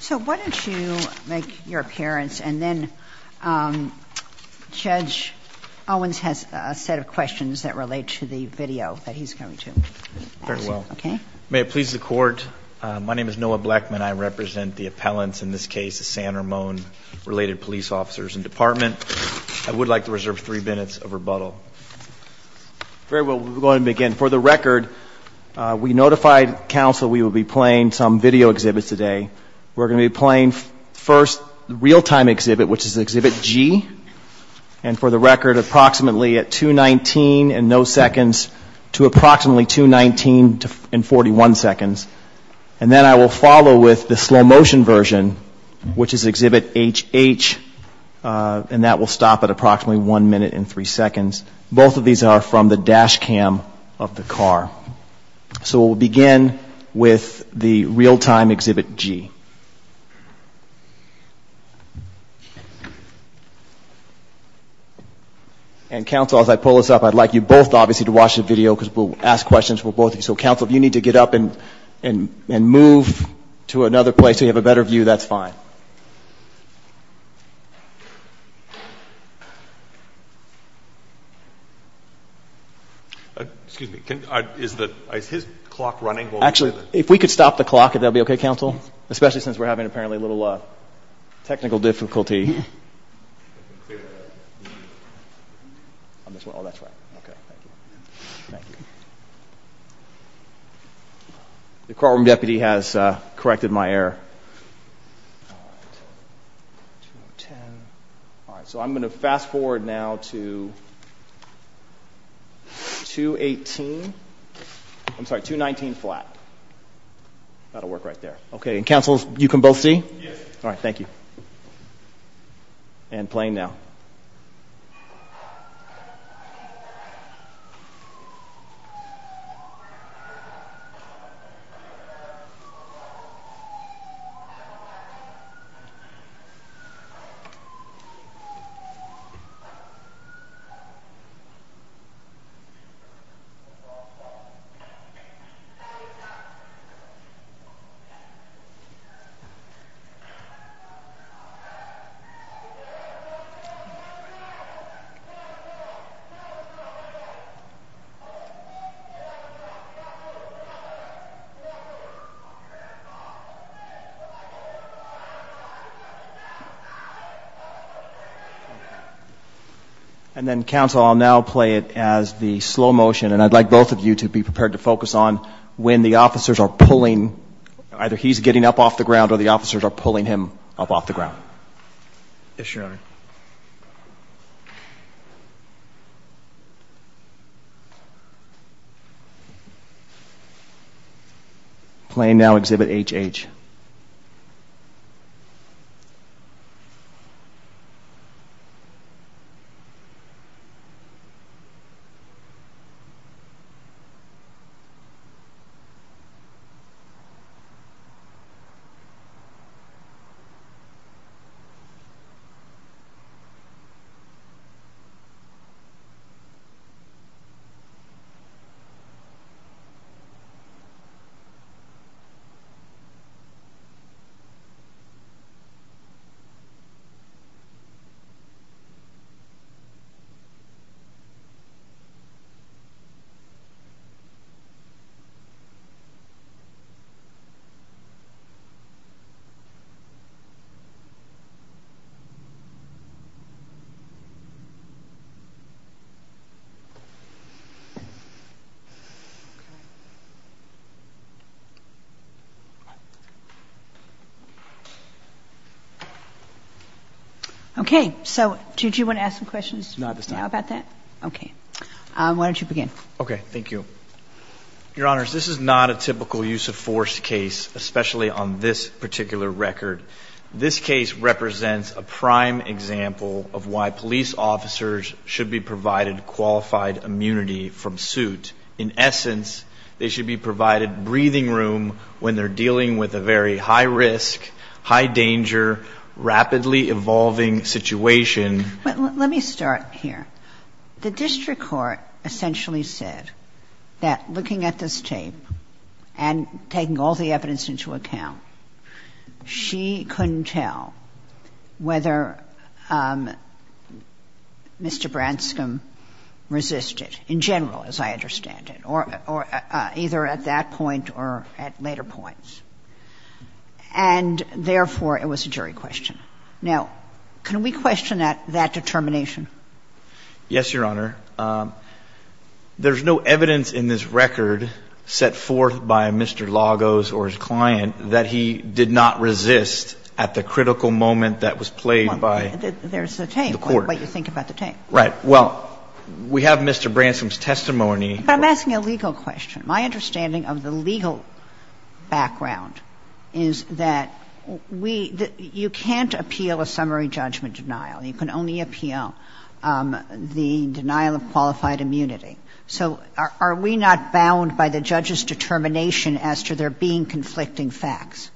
So why don't you make your appearance and then Judge Owens has a set of questions that relate to the video that he's going to answer. Very well. Okay. May it please the Court, my name is Noah Blackman. I represent the appellants in this case, the San Ramon-related police officers and department. I would like to reserve three minutes of rebuttal. Very well. We'll go ahead and begin. And for the record, we notified counsel we would be playing some video exhibits today. We're going to be playing first the real-time exhibit, which is exhibit G, and for the record approximately at 2.19 and no seconds to approximately 2.19 and 41 seconds. And then I will follow with the slow-motion version, which is exhibit HH, and that will stop at approximately one minute and three seconds. Both of these are from the dash cam of the car. So we'll begin with the real-time exhibit G. And counsel, as I pull this up, I'd like you both, obviously, to watch the video because we'll ask questions for both of you. So counsel, if you need to get up and move to another place so you have a better view, that's fine. Excuse me. Is his clock running? Actually, if we could stop the clock, that would be okay, counsel, especially since we're having apparently a little technical difficulty. The courtroom deputy has corrected my error. So I'm going to fast-forward now to 2.18, I'm sorry, 2.19 flat. That'll work right there. Okay. And counsel, you can both see? Yes. Great. All right. Thank you. And playing now. And then, counsel, I'll now play it as the slow motion, and I'd like both of you to be prepared to focus on when the officers are pulling, either he's getting up off the ground or the officers are pulling him up off the ground. Yes, Your Honor. Playing now, Exhibit HH. Okay. So did you want to ask some questions now about that? No, I'm fine. Okay. Why don't you begin? Okay. Thank you. Your Honors, this is not a typical use of force case, especially on this particular record. This case represents a prime example of why police officers should be provided qualified immunity from suit. And in essence, they should be provided breathing room when they're dealing with a very high risk, high danger, rapidly evolving situation. Let me start here. The district court essentially said that looking at this tape and taking all the evidence into account, she couldn't tell whether Mr. Branscombe resisted in general, as I understand it, or either at that point or at later points. And therefore, it was a jury question. Now, can we question that determination? Yes, Your Honor. There's no evidence in this record set forth by Mr. Lagos or his client that he did not resist at the critical moment that was played by the court. There's the tape, what you think about the tape. Right. Well, we have Mr. Branscombe's testimony. But I'm asking a legal question. My understanding of the legal background is that we — you can't appeal a summary judgment denial. You can only appeal the denial of qualified immunity. So are we not bound by the judge's determination as to there being conflicting facts?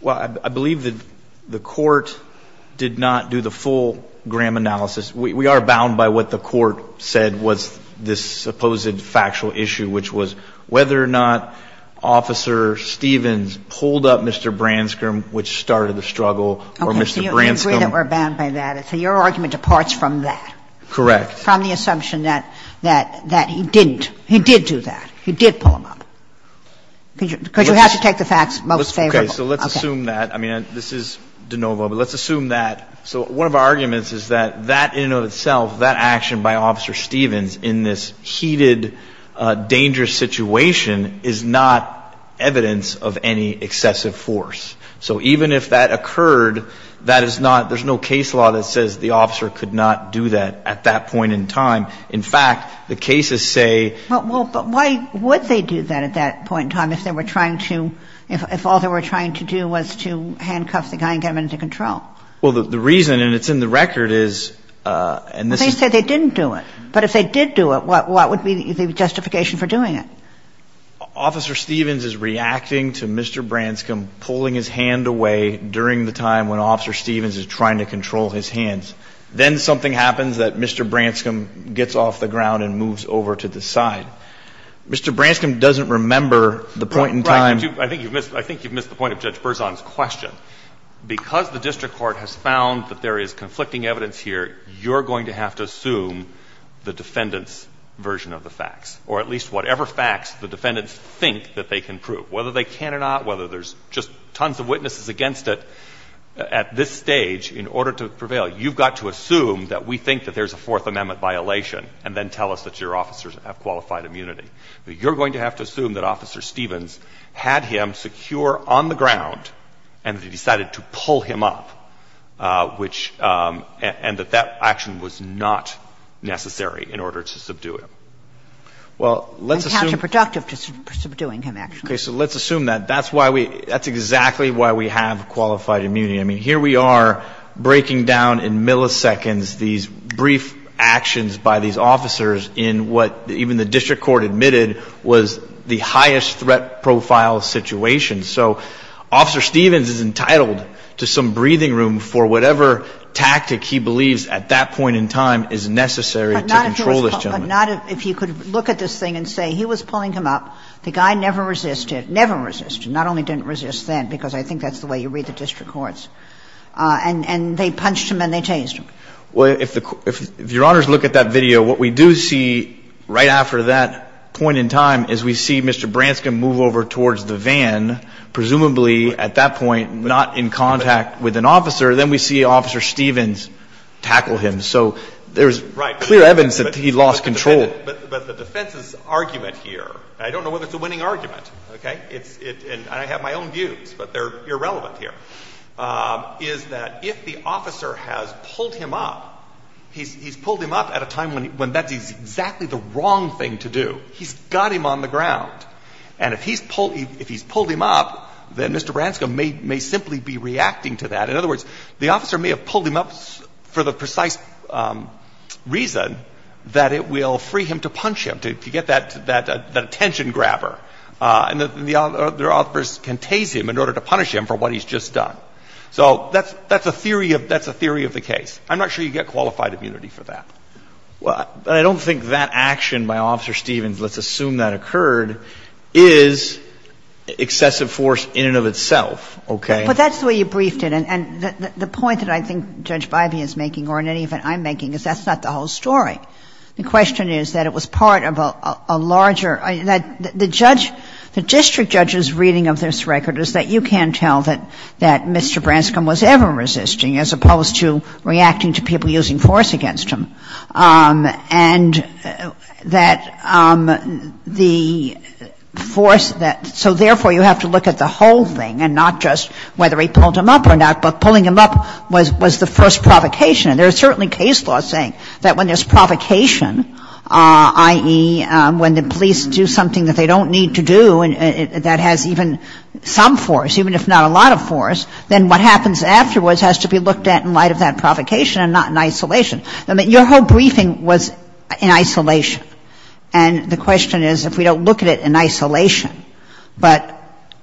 Well, I believe that the court did not do the full Graham analysis. We are bound by what the court said was this supposed factual issue, which was whether or not Officer Stevens pulled up Mr. Branscombe, which started the struggle, or Mr. Branscombe — So your argument departs from that. Correct. From the assumption that he didn't. He did do that. He did pull him up. Because you have to take the facts most favorable. Okay. So let's assume that. I mean, this is de novo, but let's assume that. So one of our arguments is that that in and of itself, that action by Officer Stevens in this heated, dangerous situation is not evidence of any excessive force. So even if that occurred, that is not — there's no case law that says the officer could not do that at that point in time. In fact, the cases say — But why would they do that at that point in time if they were trying to — if all they were trying to do was to handcuff the guy and get him into control? Well, the reason, and it's in the record, is — They said they didn't do it. But if they did do it, what would be the justification for doing it? Well, Officer Stevens is reacting to Mr. Branscombe pulling his hand away during the time when Officer Stevens is trying to control his hands. Then something happens that Mr. Branscombe gets off the ground and moves over to the side. Mr. Branscombe doesn't remember the point in time — Right. I think you've missed the point of Judge Berzon's question. Because the district court has found that there is conflicting evidence here, you're going to have to assume the defendant's version of the facts, or at least whatever facts the defendants think that they can prove. Whether they can or not, whether there's just tons of witnesses against it at this stage in order to prevail, you've got to assume that we think that there's a Fourth Amendment violation and then tell us that your officers have qualified immunity. But you're going to have to assume that Officer Stevens had him secure on the ground and that he decided to pull him up, which — and that that action was not necessary in order to subdue him. Well, let's assume — And counterproductive to subduing him, actually. Okay. So let's assume that. That's why we — that's exactly why we have qualified immunity. I mean, here we are breaking down in milliseconds these brief actions by these officers in what even the district court admitted was the highest threat profile situation. So Officer Stevens is entitled to some breathing room for whatever tactic he believes at that point in time is necessary to control this gentleman. So if you could look at this thing and say he was pulling him up, the guy never resisted, never resisted, not only didn't resist then, because I think that's the way you read the district courts, and they punched him and they chased him. Well, if the — if Your Honors look at that video, what we do see right after that point in time is we see Mr. Branscombe move over towards the van, presumably at that point not in contact with an officer. Then we see Officer Stevens tackle him. So there's clear evidence that he lost control. But the defense's argument here, and I don't know whether it's a winning argument, okay, it's — and I have my own views, but they're irrelevant here, is that if the officer has pulled him up, he's pulled him up at a time when that's exactly the wrong thing to do. He's got him on the ground. And if he's pulled — if he's pulled him up, then Mr. Branscombe may simply be reacting to that. In other words, the officer may have pulled him up for the precise reason that it will free him to punch him, to get that — that attention grabber. And the other officers can tase him in order to punish him for what he's just done. So that's — that's a theory of — that's a theory of the case. I'm not sure you get qualified immunity for that. Well, I don't think that action by Officer Stevens, let's assume that occurred, is excessive force in and of itself, okay? But that's the way you briefed it. And the point that I think Judge Bivey is making, or in any event I'm making, is that's not the whole story. The question is that it was part of a larger — that the judge — the district judge's reading of this record is that you can tell that Mr. Branscombe was ever resisting as opposed to reacting to people using force against him, and that the force that So therefore, you have to look at the whole thing and not just whether he pulled him up or not, but pulling him up was — was the first provocation. And there's certainly case law saying that when there's provocation, i.e., when the police do something that they don't need to do and that has even some force, even if not a lot of force, then what happens afterwards has to be looked at in light of that provocation and not in isolation. I mean, your whole briefing was in isolation. And the question is, if we don't look at it in isolation, but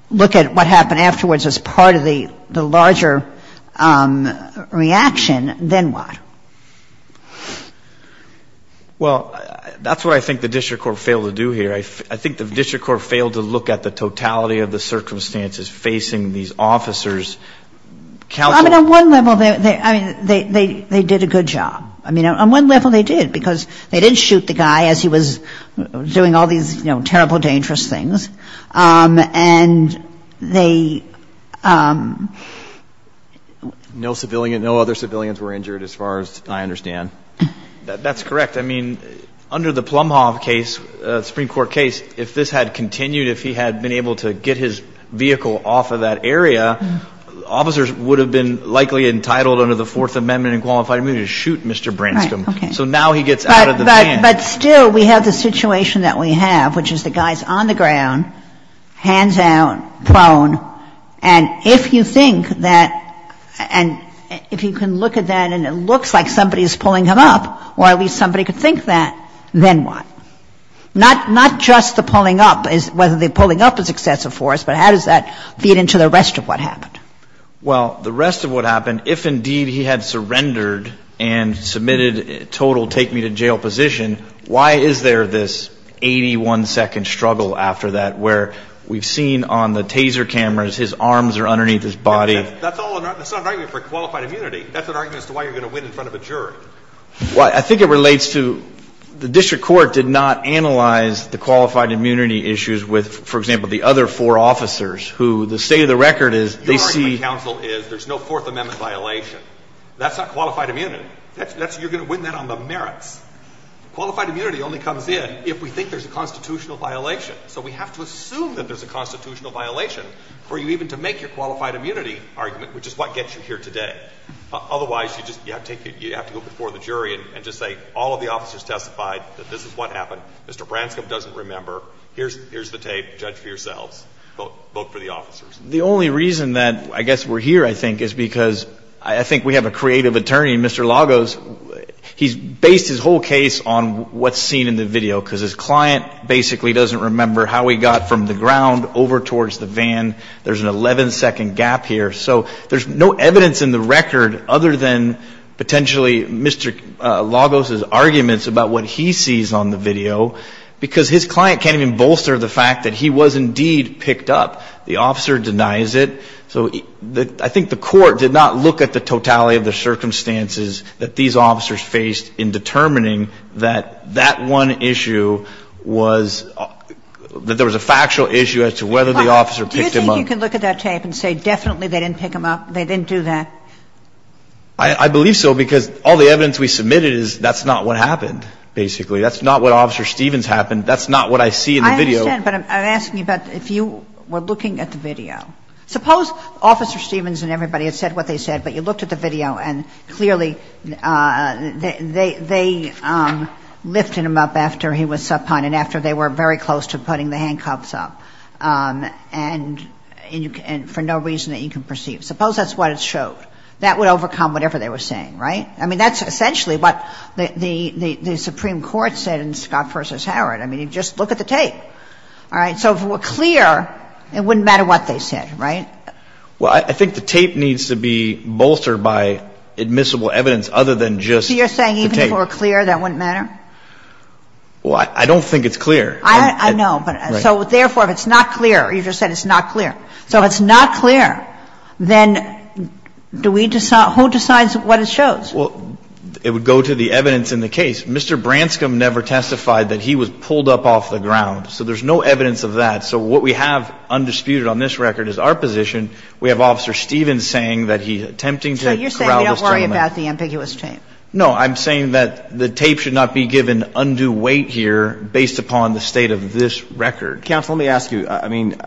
look at what happened afterwards as part of the larger reaction, then what? Well, that's what I think the district court failed to do here. I think the district court failed to look at the totality of the circumstances facing these officers. I mean, on one level, they — I mean, they did a good job. I mean, on one level, they did, because they didn't shoot the guy as he was doing all these, you know, terrible, dangerous things, and they — No civilian — no other civilians were injured as far as I understand. That's correct. I mean, under the Plumhoff case, Supreme Court case, if this had continued, if he had been able to get his vehicle off of that area, officers would have been likely entitled under the Fourth Amendment and qualified him to shoot Mr. Branscom. Right. Okay. So now he gets out of the van. But still, we have the situation that we have, which is the guy's on the ground, hands down, prone. And if you think that — and if you can look at that and it looks like somebody is pulling him up, or at least somebody could think that, then what? Not just the pulling up, whether the pulling up is excessive for us, but how does that feed into the rest of what happened? Well, the rest of what happened, if indeed he had surrendered and submitted a total take-me-to-jail position, why is there this 81-second struggle after that, where we've seen on the taser cameras his arms are underneath his body? That's all — that's not an argument for qualified immunity. That's an argument as to why you're going to win in front of a jury. Well, I think it relates to — the district court did not analyze the qualified immunity issues with, for example, the other four officers, who, the state of the record is, they see — Your argument, counsel, is there's no Fourth Amendment violation. That's not qualified immunity. That's — you're going to win that on the merits. Qualified immunity only comes in if we think there's a constitutional violation. So we have to assume that there's a constitutional violation for you even to make your qualified immunity argument, which is what gets you here today. Otherwise, you just — you have to go before the jury and just say, all of the officers testified that this is what happened. Mr. Branscombe doesn't remember. Here's the tape. Judge for yourselves. Vote for the officers. The only reason that I guess we're here, I think, is because I think we have a creative attorney, Mr. Lagos. He's based his whole case on what's seen in the video, because his client basically doesn't remember how he got from the ground over towards the van. There's an 11-second gap here. So there's no evidence in the record other than potentially Mr. Lagos's arguments about what he sees on the video, because his client can't even bolster the fact that he was indeed picked up. The officer denies it. So I think the court did not look at the totality of the circumstances that these officers faced in determining that that one issue was — that there was a factual issue as to whether the officer picked him up. Do you think you can look at that tape and say definitely they didn't pick him up? They didn't do that? I believe so, because all the evidence we submitted is that's not what happened, basically. That's not what Officer Stevens happened. That's not what I see in the video. I understand, but I'm asking you about if you were looking at the video. Suppose Officer Stevens and everybody had said what they said, but you looked at the video, and clearly they lifted him up after he was subpoenaed, after they were very close to putting the handcuffs up, and for no reason that you can perceive. Suppose that's what it showed. That would overcome whatever they were saying, right? I mean, that's essentially what the Supreme Court said in Scott v. Howard. I mean, just look at the tape, all right? So if it were clear, it wouldn't matter what they said, right? Well, I think the tape needs to be bolstered by admissible evidence other than just the tape. So you're saying even if it were clear, that wouldn't matter? Well, I don't think it's clear. I know, but — so therefore, if it's not clear — you just said it's not clear. So if it's not clear, then do we — who decides what it shows? Well, it would go to the evidence in the case. Mr. Branscom never testified that he was pulled up off the ground, so there's no evidence of that. So what we have undisputed on this record is our position. We have Officer Stevens saying that he's attempting to corral this gentleman. So you're saying we don't worry about the ambiguous tape? No. I'm saying that the tape should not be given undue weight here based upon the state of this record. Counsel, let me ask you. I mean,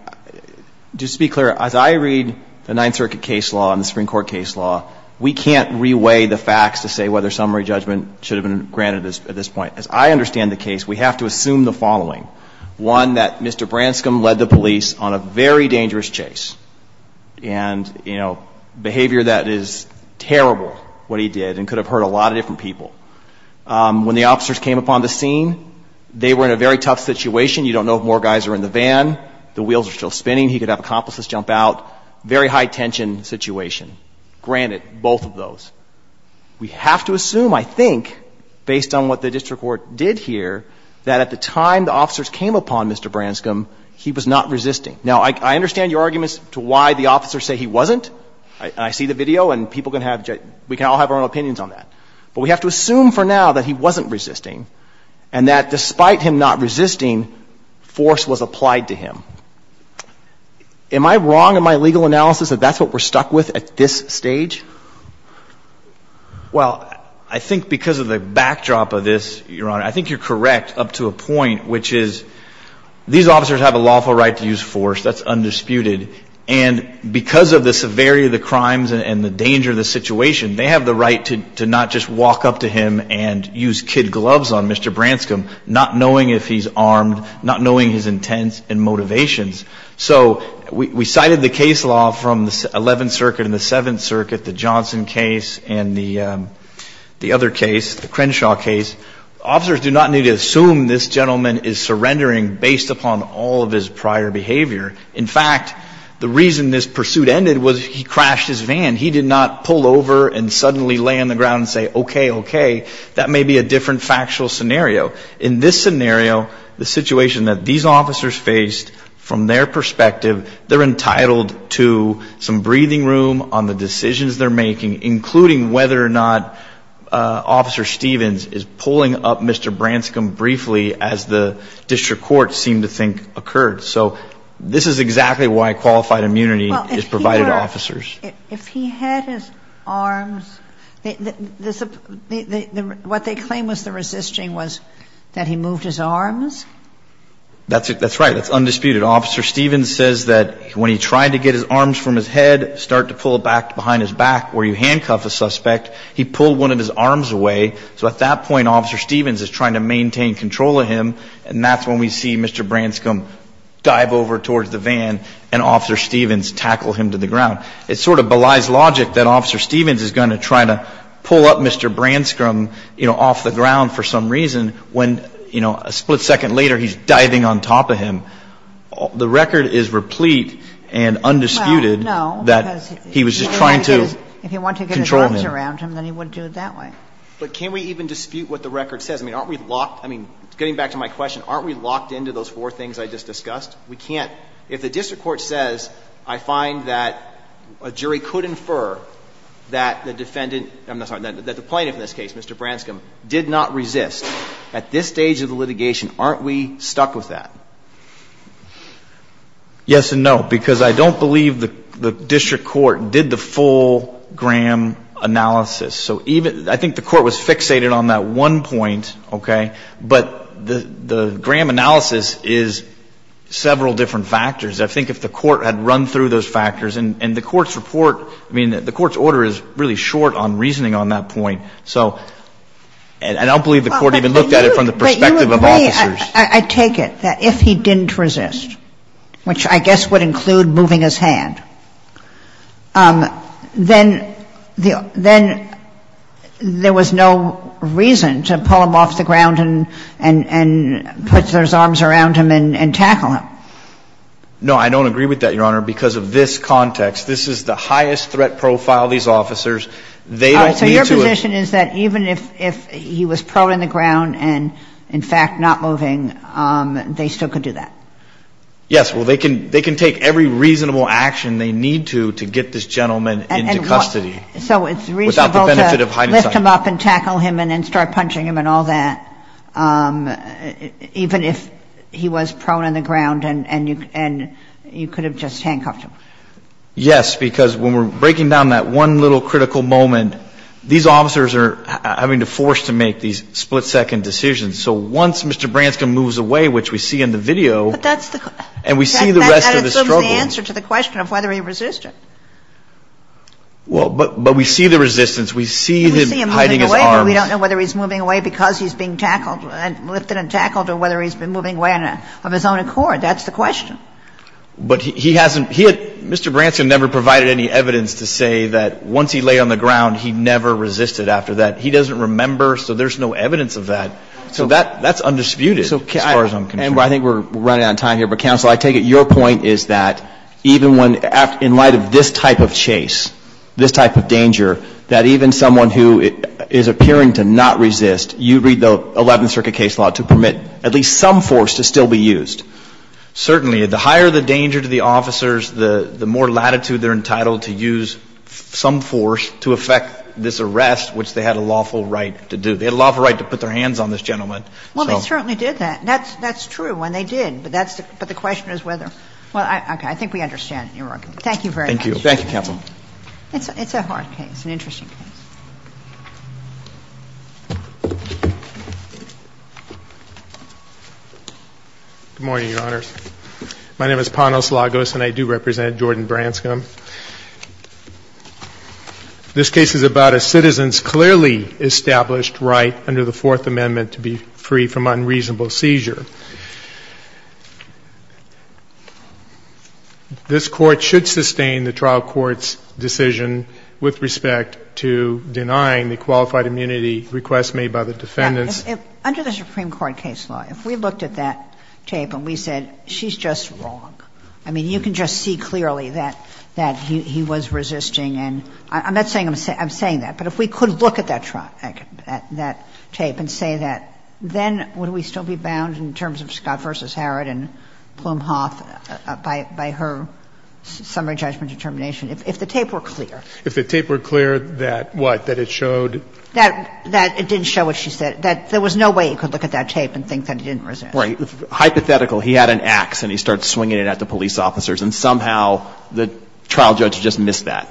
just to be clear, as I read the Ninth Circuit case law and the Supreme Court case law, we can't reweigh the facts to say whether summary judgment should have been granted at this point. As I understand the case, we have to assume the following. One, that Mr. Branscom led the police on a very dangerous chase and, you know, behavior that is terrible, what he did, and could have hurt a lot of different people. When the officers came upon the scene, they were in a very tough situation. You don't know if more guys are in the van. The wheels are still spinning. He could have accomplices jump out. Very high-tension situation. Granted, both of those. We have to assume, I think, based on what the district court did here, that at the time the officers came upon Mr. Branscom, he was not resisting. Now, I understand your arguments to why the officers say he wasn't. I see the video, and people can have — we can all have our own opinions on that. But we have to assume for now that he wasn't resisting and that despite him not resisting, force was applied to him. Am I wrong in my legal analysis that that's what we're stuck with at this stage? Well, I think because of the backdrop of this, Your Honor, I think you're correct up to a point, which is these officers have a lawful right to use force. That's undisputed. And because of the severity of the crimes and the danger of the situation, they have the right to not just walk up to him and use kid gloves on Mr. Branscom, not knowing if So, we cited the case law from the 11th Circuit and the 7th Circuit, the Johnson case and the other case, the Crenshaw case. Officers do not need to assume this gentleman is surrendering based upon all of his prior behavior. In fact, the reason this pursuit ended was he crashed his van. He did not pull over and suddenly lay on the ground and say, okay, okay. That may be a different factual scenario. In this scenario, the situation that these officers faced, from their perspective, they're entitled to some breathing room on the decisions they're making, including whether or not Officer Stevens is pulling up Mr. Branscom briefly as the district court seemed to think occurred. So this is exactly why qualified immunity is provided to officers. If he had his arms, what they claim was the resisting was that he moved his arms? That's right. That's undisputed. Officer Stevens says that when he tried to get his arms from his head, start to pull back behind his back where you handcuff a suspect, he pulled one of his arms away. So at that point, Officer Stevens is trying to maintain control of him. And that's when we see Mr. Branscom dive over towards the van and Officer Stevens tackle him to the ground. It sort of belies logic that Officer Stevens is going to try to pull up Mr. Branscom off the ground for some reason when a split second later he's diving on top of him. The record is replete and undisputed that he was just trying to control him. If he wanted to get his arms around him, then he wouldn't do it that way. But can we even dispute what the record says? I mean, aren't we locked? I mean, getting back to my question, aren't we locked into those four things I just discussed? We can't – if the district court says, I find that a jury could infer that the defendant – I'm sorry, that the plaintiff in this case, Mr. Branscom, did not resist at this stage of the litigation, aren't we stuck with that? Yes and no, because I don't believe the district court did the full Graham analysis. So even – I think the court was fixated on that one point, okay? But the Graham analysis is several different factors. I think if the court had run through those factors, and the court's report – I mean, the court's order is really short on reasoning on that point. So I don't believe the court even looked at it from the perspective of officers. But you agree, I take it, that if he didn't resist, which I guess would include moving his hand, then there was no reason to pull him off the ground and put him – and put those arms around him and tackle him. No, I don't agree with that, Your Honor, because of this context. This is the highest threat profile of these officers. They don't need to – So your position is that even if he was proed on the ground and in fact not moving, they still could do that? Yes. Well, they can take every reasonable action they need to to get this gentleman into custody. So it's reasonable to lift him up and tackle him and then start punching him and all that? Even if he was proed on the ground and you could have just handcuffed him? Yes, because when we're breaking down that one little critical moment, these officers are having to force to make these split-second decisions. So once Mr. Branscombe moves away, which we see in the video, and we see the rest of the struggle – But that assumes the answer to the question of whether he resisted. Well, but we see the resistance. We see him hiding his arms. So we don't know whether he's moving away because he's being tackled – lifted and tackled or whether he's been moving away of his own accord. That's the question. But he hasn't – he had – Mr. Branscombe never provided any evidence to say that once he laid on the ground, he never resisted after that. He doesn't remember, so there's no evidence of that. So that's undisputed as far as I'm concerned. And I think we're running out of time here, but Counsel, I take it your point is that even when – in light of this type of chase, this type of danger, that even someone who is appearing to not resist, you read the Eleventh Circuit case law to permit at least some force to still be used. Certainly, the higher the danger to the officers, the more latitude they're entitled to use some force to affect this arrest, which they had a lawful right to do. They had a lawful right to put their hands on this gentleman. Well, they certainly did that. That's true. And they did. But that's – but the question is whether – well, okay. I think we understand it, Your Honor. Thank you very much. Thank you. Thank you, Counsel. It's a hard case, an interesting case. Good morning, Your Honors. My name is Panos Lagos, and I do represent Jordan Branscombe. This case is about a citizen's clearly established right under the Fourth Amendment to be free from unreasonable seizure. This Court should sustain the trial court's decision with respect to denying the qualified immunity request made by the defendants. Yeah. Under the Supreme Court case law, if we looked at that tape and we said, she's just wrong, I mean, you can just see clearly that he was resisting and – I'm not saying I'm saying that, but if we could look at that tape and say that, then would we still be bound in terms of Scott v. Harrod and Plumhoff by her summary judgment determination, if the tape were clear? If the tape were clear that what? That it showed? That it didn't show what she said. That there was no way you could look at that tape and think that he didn't resist. Right. Hypothetical. He had an ax, and he started swinging it at the police officers. And somehow the trial judge just missed that.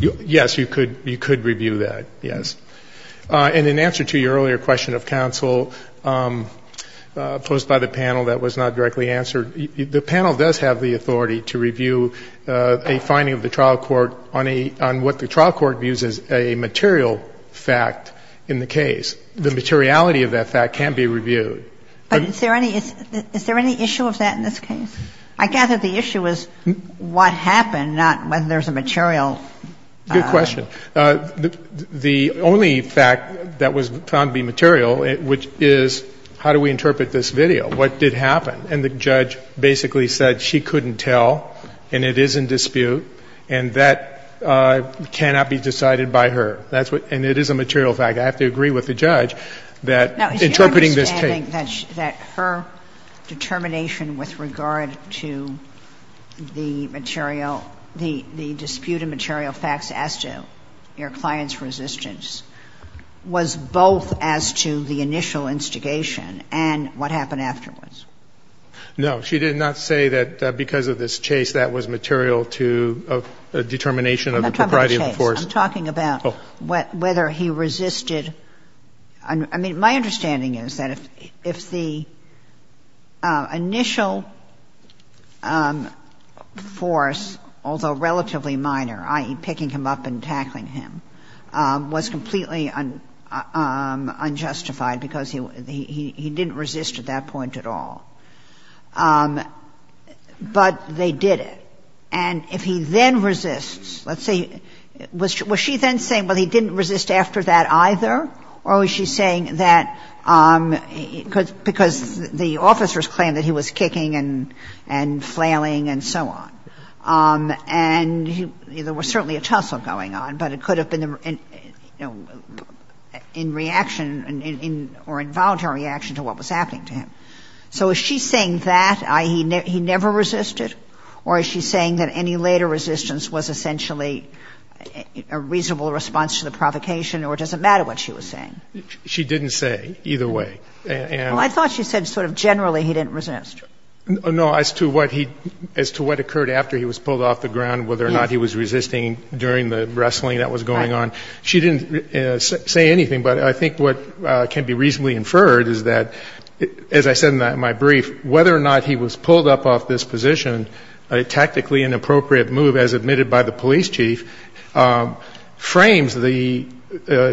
Yes, you could review that, yes. And in answer to your earlier question of counsel posed by the panel that was not directly answered, the panel does have the authority to review a finding of the trial court on a – on what the trial court views as a material fact in the case. The materiality of that fact can be reviewed. But is there any – is there any issue of that in this case? I gather the issue is what happened, not whether there's a material – Good question. The only fact that was found to be material, which is how do we interpret this video? What did happen? And the judge basically said she couldn't tell, and it is in dispute, and that cannot be decided by her. That's what – and it is a material fact. I have to agree with the judge that interpreting this tape – Now, is your understanding that her determination with regard to the material – the dispute of material facts as to your client's resistance was both as to the initial instigation and what happened afterwards? No. She did not say that because of this chase that was material to a determination of the propriety of the force. I'm not talking about the chase. I'm talking about whether he resisted – I mean, my understanding is that if the initial force, although relatively minor, i.e., picking him up and tackling him, was completely unjustified because he didn't resist at that point at all, but they did it. And if he then resists, let's say – was she then saying, well, he didn't resist after that either, or was she saying that – because the officers claimed that he was kicking and flailing and so on. And there was certainly a tussle going on, but it could have been in reaction or involuntary reaction to what was happening to him. So is she saying that, i.e., he never resisted, or is she saying that any later resistance was essentially a reasonable response to the provocation, or it doesn't matter what she was saying? She didn't say either way. Well, I thought she said sort of generally he didn't resist. No, as to what he – as to what occurred after he was pulled off the ground, whether or not he was resisting during the wrestling that was going on. She didn't say anything, but I think what can be reasonably inferred is that, as I said in my brief, whether or not he was pulled up off this position, a tactically inappropriate move, as admitted by the police chief, frames the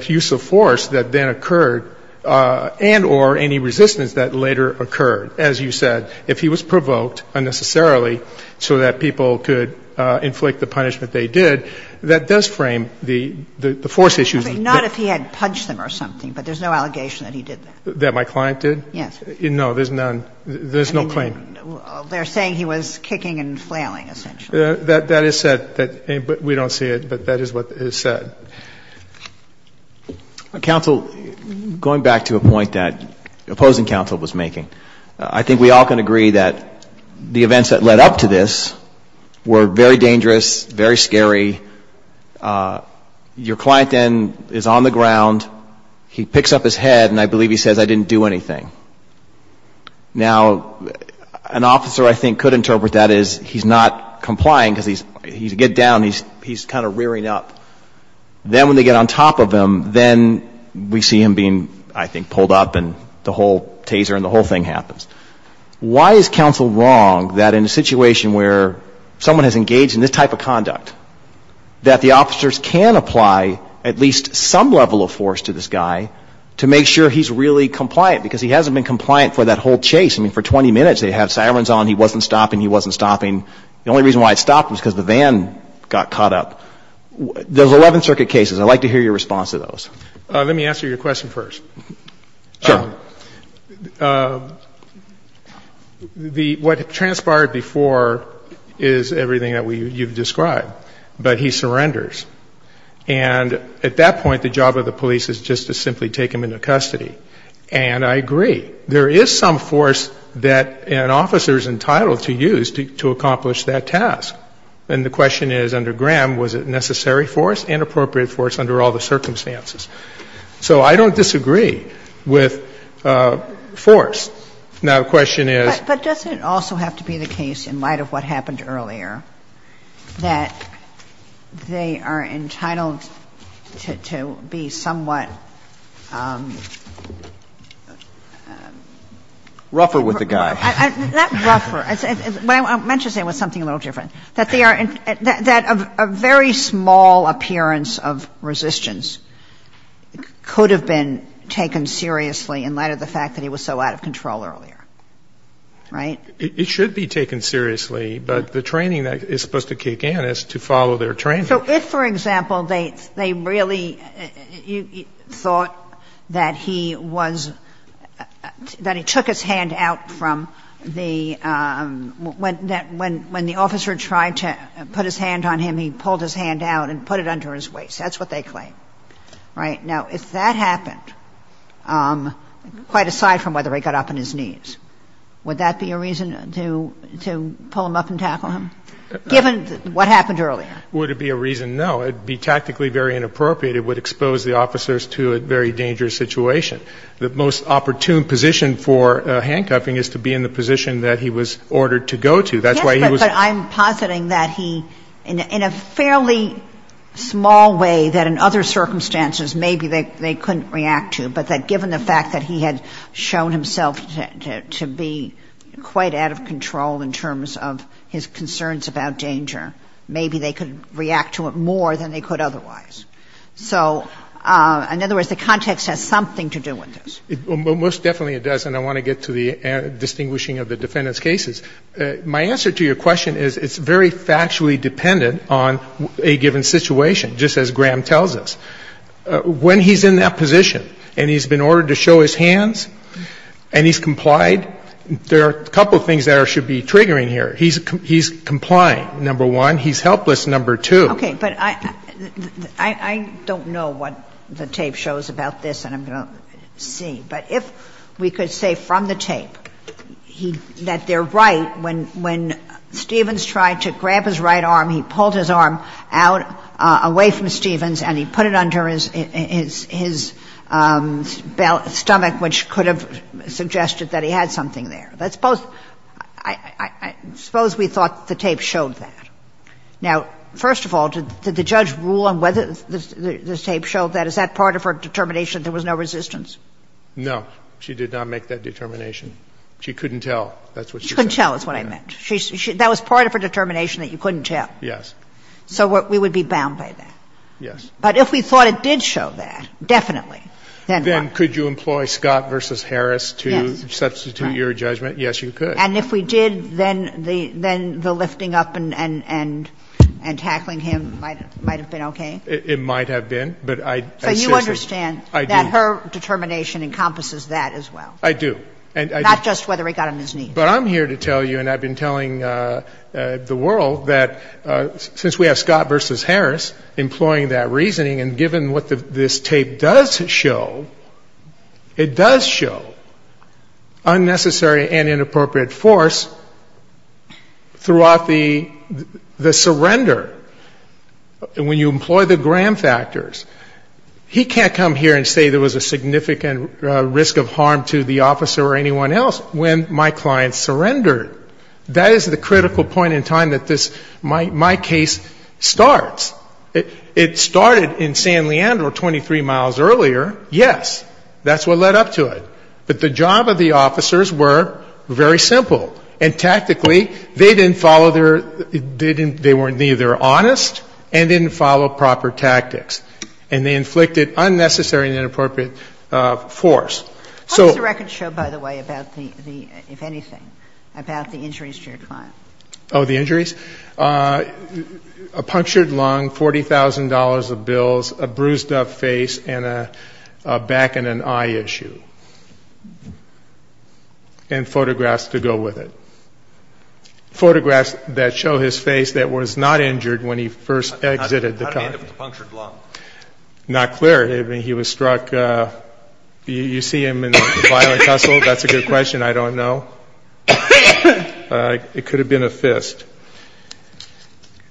use of force that then occurred and or any resistance that later occurred. As you said, if he was provoked unnecessarily so that people could inflict the punishment they did, that does frame the force issues. I mean, not if he had punched them or something, but there's no allegation that he did that. That my client did? Yes. No, there's none. There's no claim. They're saying he was kicking and flailing, essentially. That is said, but we don't see it, but that is what is said. Counsel, going back to a point that opposing counsel was making, I think we all can agree that the events that led up to this were very dangerous, very scary. Your client then is on the ground, he picks up his head, and I believe he says, I didn't do anything. Now, an officer, I think, could interpret that as he's not complying because he's, he's getting down, he's kind of rearing up. Then when they get on top of him, then we see him being, I think, pulled up and the whole taser and the whole thing happens. Why is counsel wrong that in a situation where someone has engaged in this type of conduct, that the officers can apply at least some level of force to this guy to make sure he's really compliant? Because he hasn't been compliant for that whole chase. I mean, for 20 minutes, they had sirens on, he wasn't stopping, he wasn't stopping. The only reason why it stopped was because the van got caught up. There's 11 circuit cases. I'd like to hear your response to those. Let me answer your question first. Sure. What transpired before is everything that you've described, but he surrenders. And at that point, the job of the police is just to simply take him into custody. And I agree, there is some force that an officer is entitled to use to accomplish that task. And the question is, under Graham, was it necessary force, inappropriate force under all the circumstances? So I don't disagree with force. Now, the question is — But doesn't it also have to be the case, in light of what happened earlier, that they are entitled to be somewhat — Rougher with the guy. Not rougher. What I meant to say was something a little different. That they are — that a very small appearance of resistance could have been taken seriously in light of the fact that he was so out of control earlier. Right? It should be taken seriously, but the training that is supposed to kick in is to follow their training. So if, for example, they really thought that he was — that he took his hand out from the — when the officer tried to put his hand on him, he pulled his hand out and put it under his waist. That's what they claim. Right? Now, if that happened, quite aside from whether he got up on his knees, would that be a reason to pull him up and tackle him, given what happened earlier? Would it be a reason? No. It would be tactically very inappropriate. It would expose the officers to a very dangerous situation. The most opportune position for handcuffing is to be in the position that he was ordered to go to. That's why he was — Yes, but I'm positing that he — in a fairly small way that, in other circumstances, maybe they couldn't react to. But that given the fact that he had shown himself to be quite out of control in terms of his concerns about danger, maybe they could react to it more than they could otherwise. So, in other words, the context has something to do with this. Well, most definitely it does. And I want to get to the distinguishing of the defendant's cases. My answer to your question is it's very factually dependent on a given situation, just as Graham tells us. When he's in that position and he's been ordered to show his hands and he's complied, there are a couple of things that should be triggering here. He's complying, number one. He's helpless, number two. Okay. But I don't know what the tape shows about this, and I'm going to see. But if we could say from the tape that they're right when Stevens tried to grab his right arm, he pulled his arm out away from Stevens and he put it under his stomach, which could have suggested that he had something there. Let's suppose we thought the tape showed that. Now, first of all, did the judge rule on whether the tape showed that? Is that part of her determination there was no resistance? No, she did not make that determination. She couldn't tell. She couldn't tell is what I meant. That was part of her determination that you couldn't tell. So we would be bound by that? Yes. But if we thought it did show that, definitely, then what? Then could you employ Scott v. Harris to substitute your judgment? Yes, you could. And if we did, then the lifting up and tackling him might have been okay? It might have been. So you understand that her determination encompasses that as well? I do. Not just whether he got on his knees. But I'm here to tell you, and I've been telling the world, that since we have Scott v. Harris employing that reasoning, and given what this tape does show, it does show unnecessary and inappropriate force throughout the surrender. When you employ the Graham factors, he can't come here and say there was a significant risk of harm to the officer or anyone else when my client surrendered. That is the critical point in time that this, my case, starts. It started in San Leandro 23 miles earlier, yes. That's what led up to it. But the job of the officers were very simple. And tactically, they didn't follow their, they weren't either honest and didn't follow proper tactics. And they inflicted unnecessary and inappropriate force. What does the record show, by the way, about the, if anything, about the injuries to your client? Oh, the injuries? A punctured lung, $40,000 of bills, a bruised up face, and a back and an eye issue. And photographs to go with it. Photographs that show his face that was not injured when he first exited the car. How did he end up with a punctured lung? Not clear. He was struck. Do you see him in a violent hustle? That's a good question. I don't know. It could have been a fist.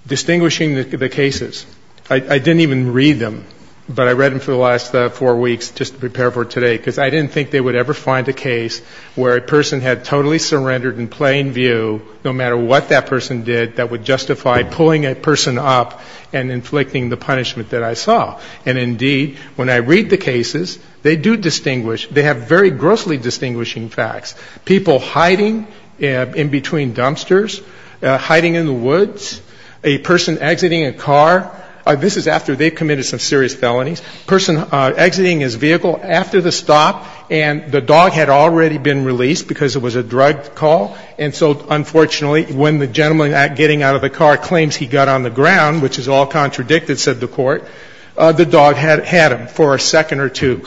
Distinguishing the cases. I didn't even read them. But I read them for the last four weeks just to prepare for today. Because I didn't think they would ever find a case where a person had totally surrendered in plain view, no matter what that person did, that would justify pulling a person up and inflicting the punishment that I saw. And indeed, when I read the cases, they do distinguish. They have very grossly distinguishing facts. People hiding in between dumpsters. Hiding in the woods. A person exiting a car. This is after they've committed some serious felonies. Person exiting his vehicle after the stop. And the dog had already been released because it was a drug call. And so unfortunately, when the gentleman getting out of the car claims he got on the ground, which is all contradicted, said the court. The dog had him for a second or two.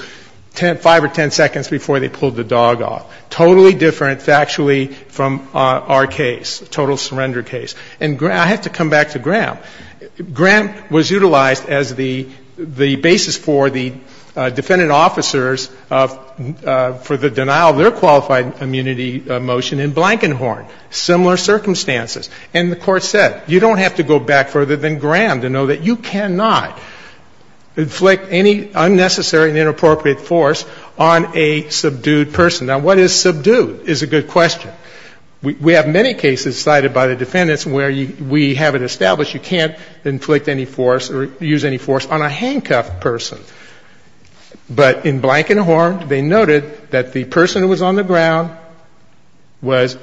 Five or ten seconds before they pulled the dog off. Totally different factually from our case. Total surrender case. And I have to come back to Graham. Graham was utilized as the basis for the defendant officers for the denial of their qualified immunity motion in Blankenhorn. Similar circumstances. And the court said, you don't have to go back further than Graham to know that you cannot inflict any unnecessary and inappropriate force on a subdued person. Now, what is subdued is a good question. We have many cases cited by the defendants where we have it established you can't inflict any force or use any force on a handcuffed person. But in Blankenhorn, they noted that the person who was on the ground was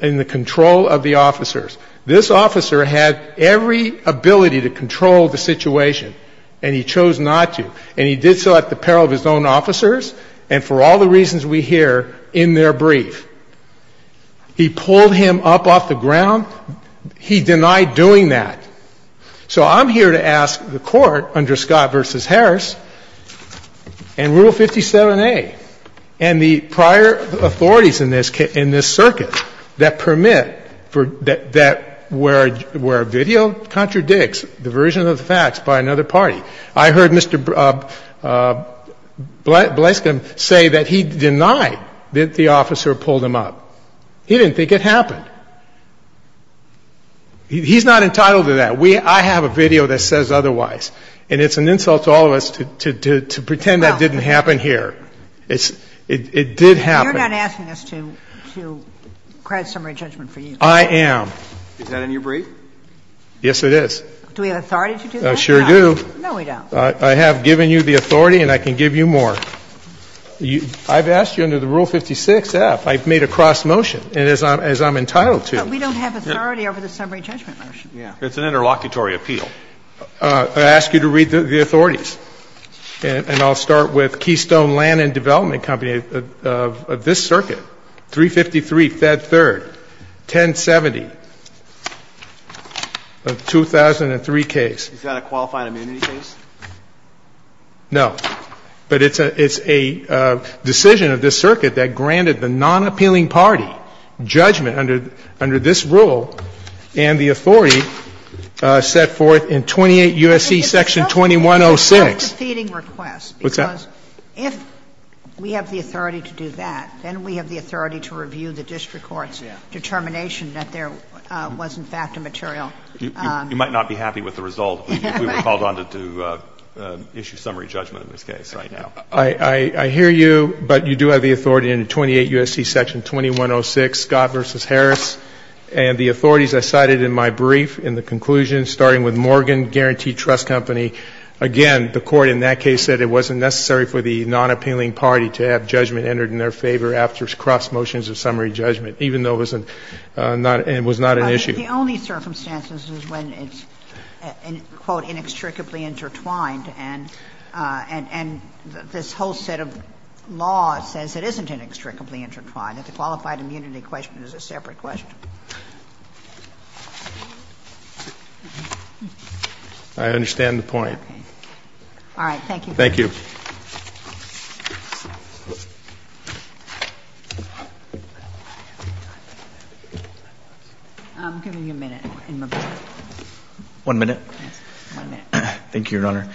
in the control of the officers. This officer had every ability to control the situation. And he chose not to. And he did so at the peril of his own officers and for all the reasons we hear in their brief. He pulled him up off the ground. He denied doing that. So I'm here to ask the court under Scott v. Harris and Rule 57A and the prior authorities in this circuit that permit for that where a video contradicts the version of the facts by another party. I heard Mr. Blaskin say that he denied that the officer pulled him up. He didn't think it happened. He's not entitled to that. I have a video that says otherwise. And it's an insult to all of us to pretend that didn't happen here. It did happen. You're not asking us to cry summary judgment for you. I am. Is that in your brief? Yes, it is. Do we have authority to do that? I sure do. No, we don't. I have given you the authority and I can give you more. I've asked you under the Rule 56F. I've made a cross motion as I'm entitled to. But we don't have authority over the summary judgment motion. Yeah. It's an interlocutory appeal. I ask you to read the authorities. And I'll start with Keystone Land and Development Company of this circuit. 353, Fed 3rd, 1070 of the 2003 case. Is that a qualified immunity case? No. But it's a decision of this circuit that granted the nonappealing party judgment under this rule and the authority set forth in 28 U.S.C. Section 2106. It's a self-defeating request. What's that? If we have the authority to do that, then we have the authority to review the district court's determination that there was, in fact, a material. You might not be happy with the result if we were called on to do issue summary judgment in this case right now. I hear you. But you do have the authority in 28 U.S.C. Section 2106, Scott v. Harris. And the authorities I cited in my brief in the conclusion, starting with Morgan Guaranteed Trust Company. Again, the court in that case said it wasn't necessary for the nonappealing party to have judgment entered in their favor after cross motions of summary judgment, even though it was not an issue. But the only circumstances is when it's, quote, inextricably intertwined. And this whole set of law says it isn't inextricably intertwined, that the qualified immunity question is a separate question. I understand the point. All right. Thank you. Thank you. I'm giving you a minute. One minute. Thank you, Your Honor.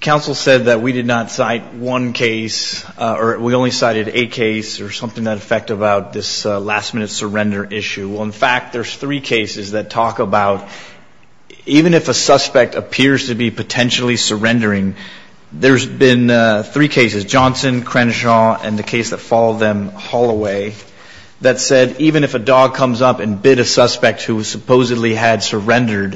Counsel said that we did not cite one case, or we only cited a case or something that affected this last minute surrender in this case. In fact, there's three cases that talk about, even if a suspect appears to be potentially surrendering, there's been three cases, Johnson, Crenshaw, and the case that followed them, Holloway, that said even if a dog comes up and bit a suspect who supposedly had surrendered,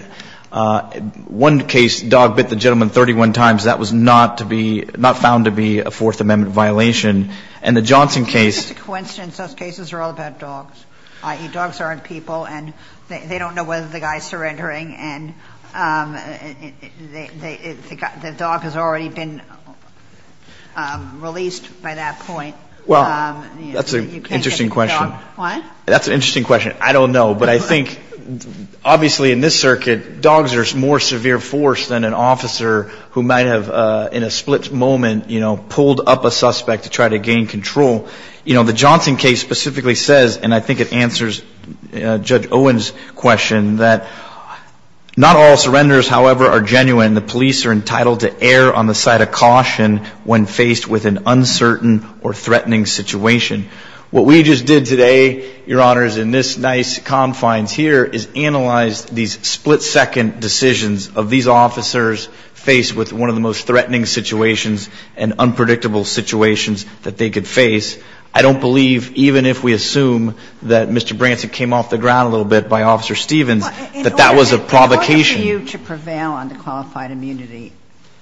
one case, dog bit the gentleman 31 times, that was not to be, not found to be a Fourth Amendment violation. And the Johnson case... Coincidence, those cases are all about dogs, i.e. dogs aren't people, and they don't know whether the guy's surrendering, and the dog has already been released by that point. Well, that's an interesting question. What? That's an interesting question. I don't know. But I think, obviously, in this circuit, dogs are more severe force than an officer who might have, in a split moment, pulled up a suspect to try to gain control. You know, the Johnson case specifically says, and I think it answers Judge Owen's question, that not all surrenders, however, are genuine. The police are entitled to err on the side of caution when faced with an uncertain or threatening situation. What we just did today, Your Honors, in this nice confines here, is analyze these split-second decisions of these officers faced with one of the most I don't believe, even if we assume that Mr. Branscom's came off the ground a little bit by Officer Stevens, that that was a provocation. In order for you to prevail on the qualified immunity,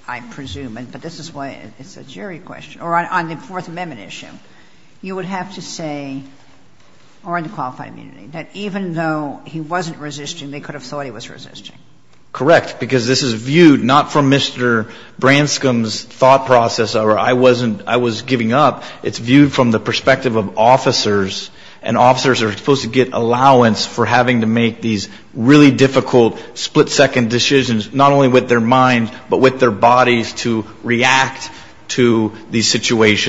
I presume, but this is why it's a jury question, or on the Fourth Amendment issue, you would have to say, or on the qualified immunity, that even though he wasn't resisting, they could have thought he was resisting. Correct, because this is viewed not from Mr. Branscom's thought process, or I wasn't giving up, it's viewed from the perspective of officers, and officers are supposed to get allowance for having to make these really difficult split-second decisions, not only with their mind, but with their bodies, to react to these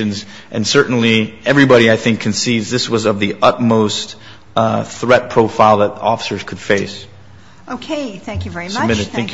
And certainly, everybody, I think, concedes this was of the utmost threat profile that officers could face. Okay. Thank you very much. Thank you, counsel. Thank you. Thank you.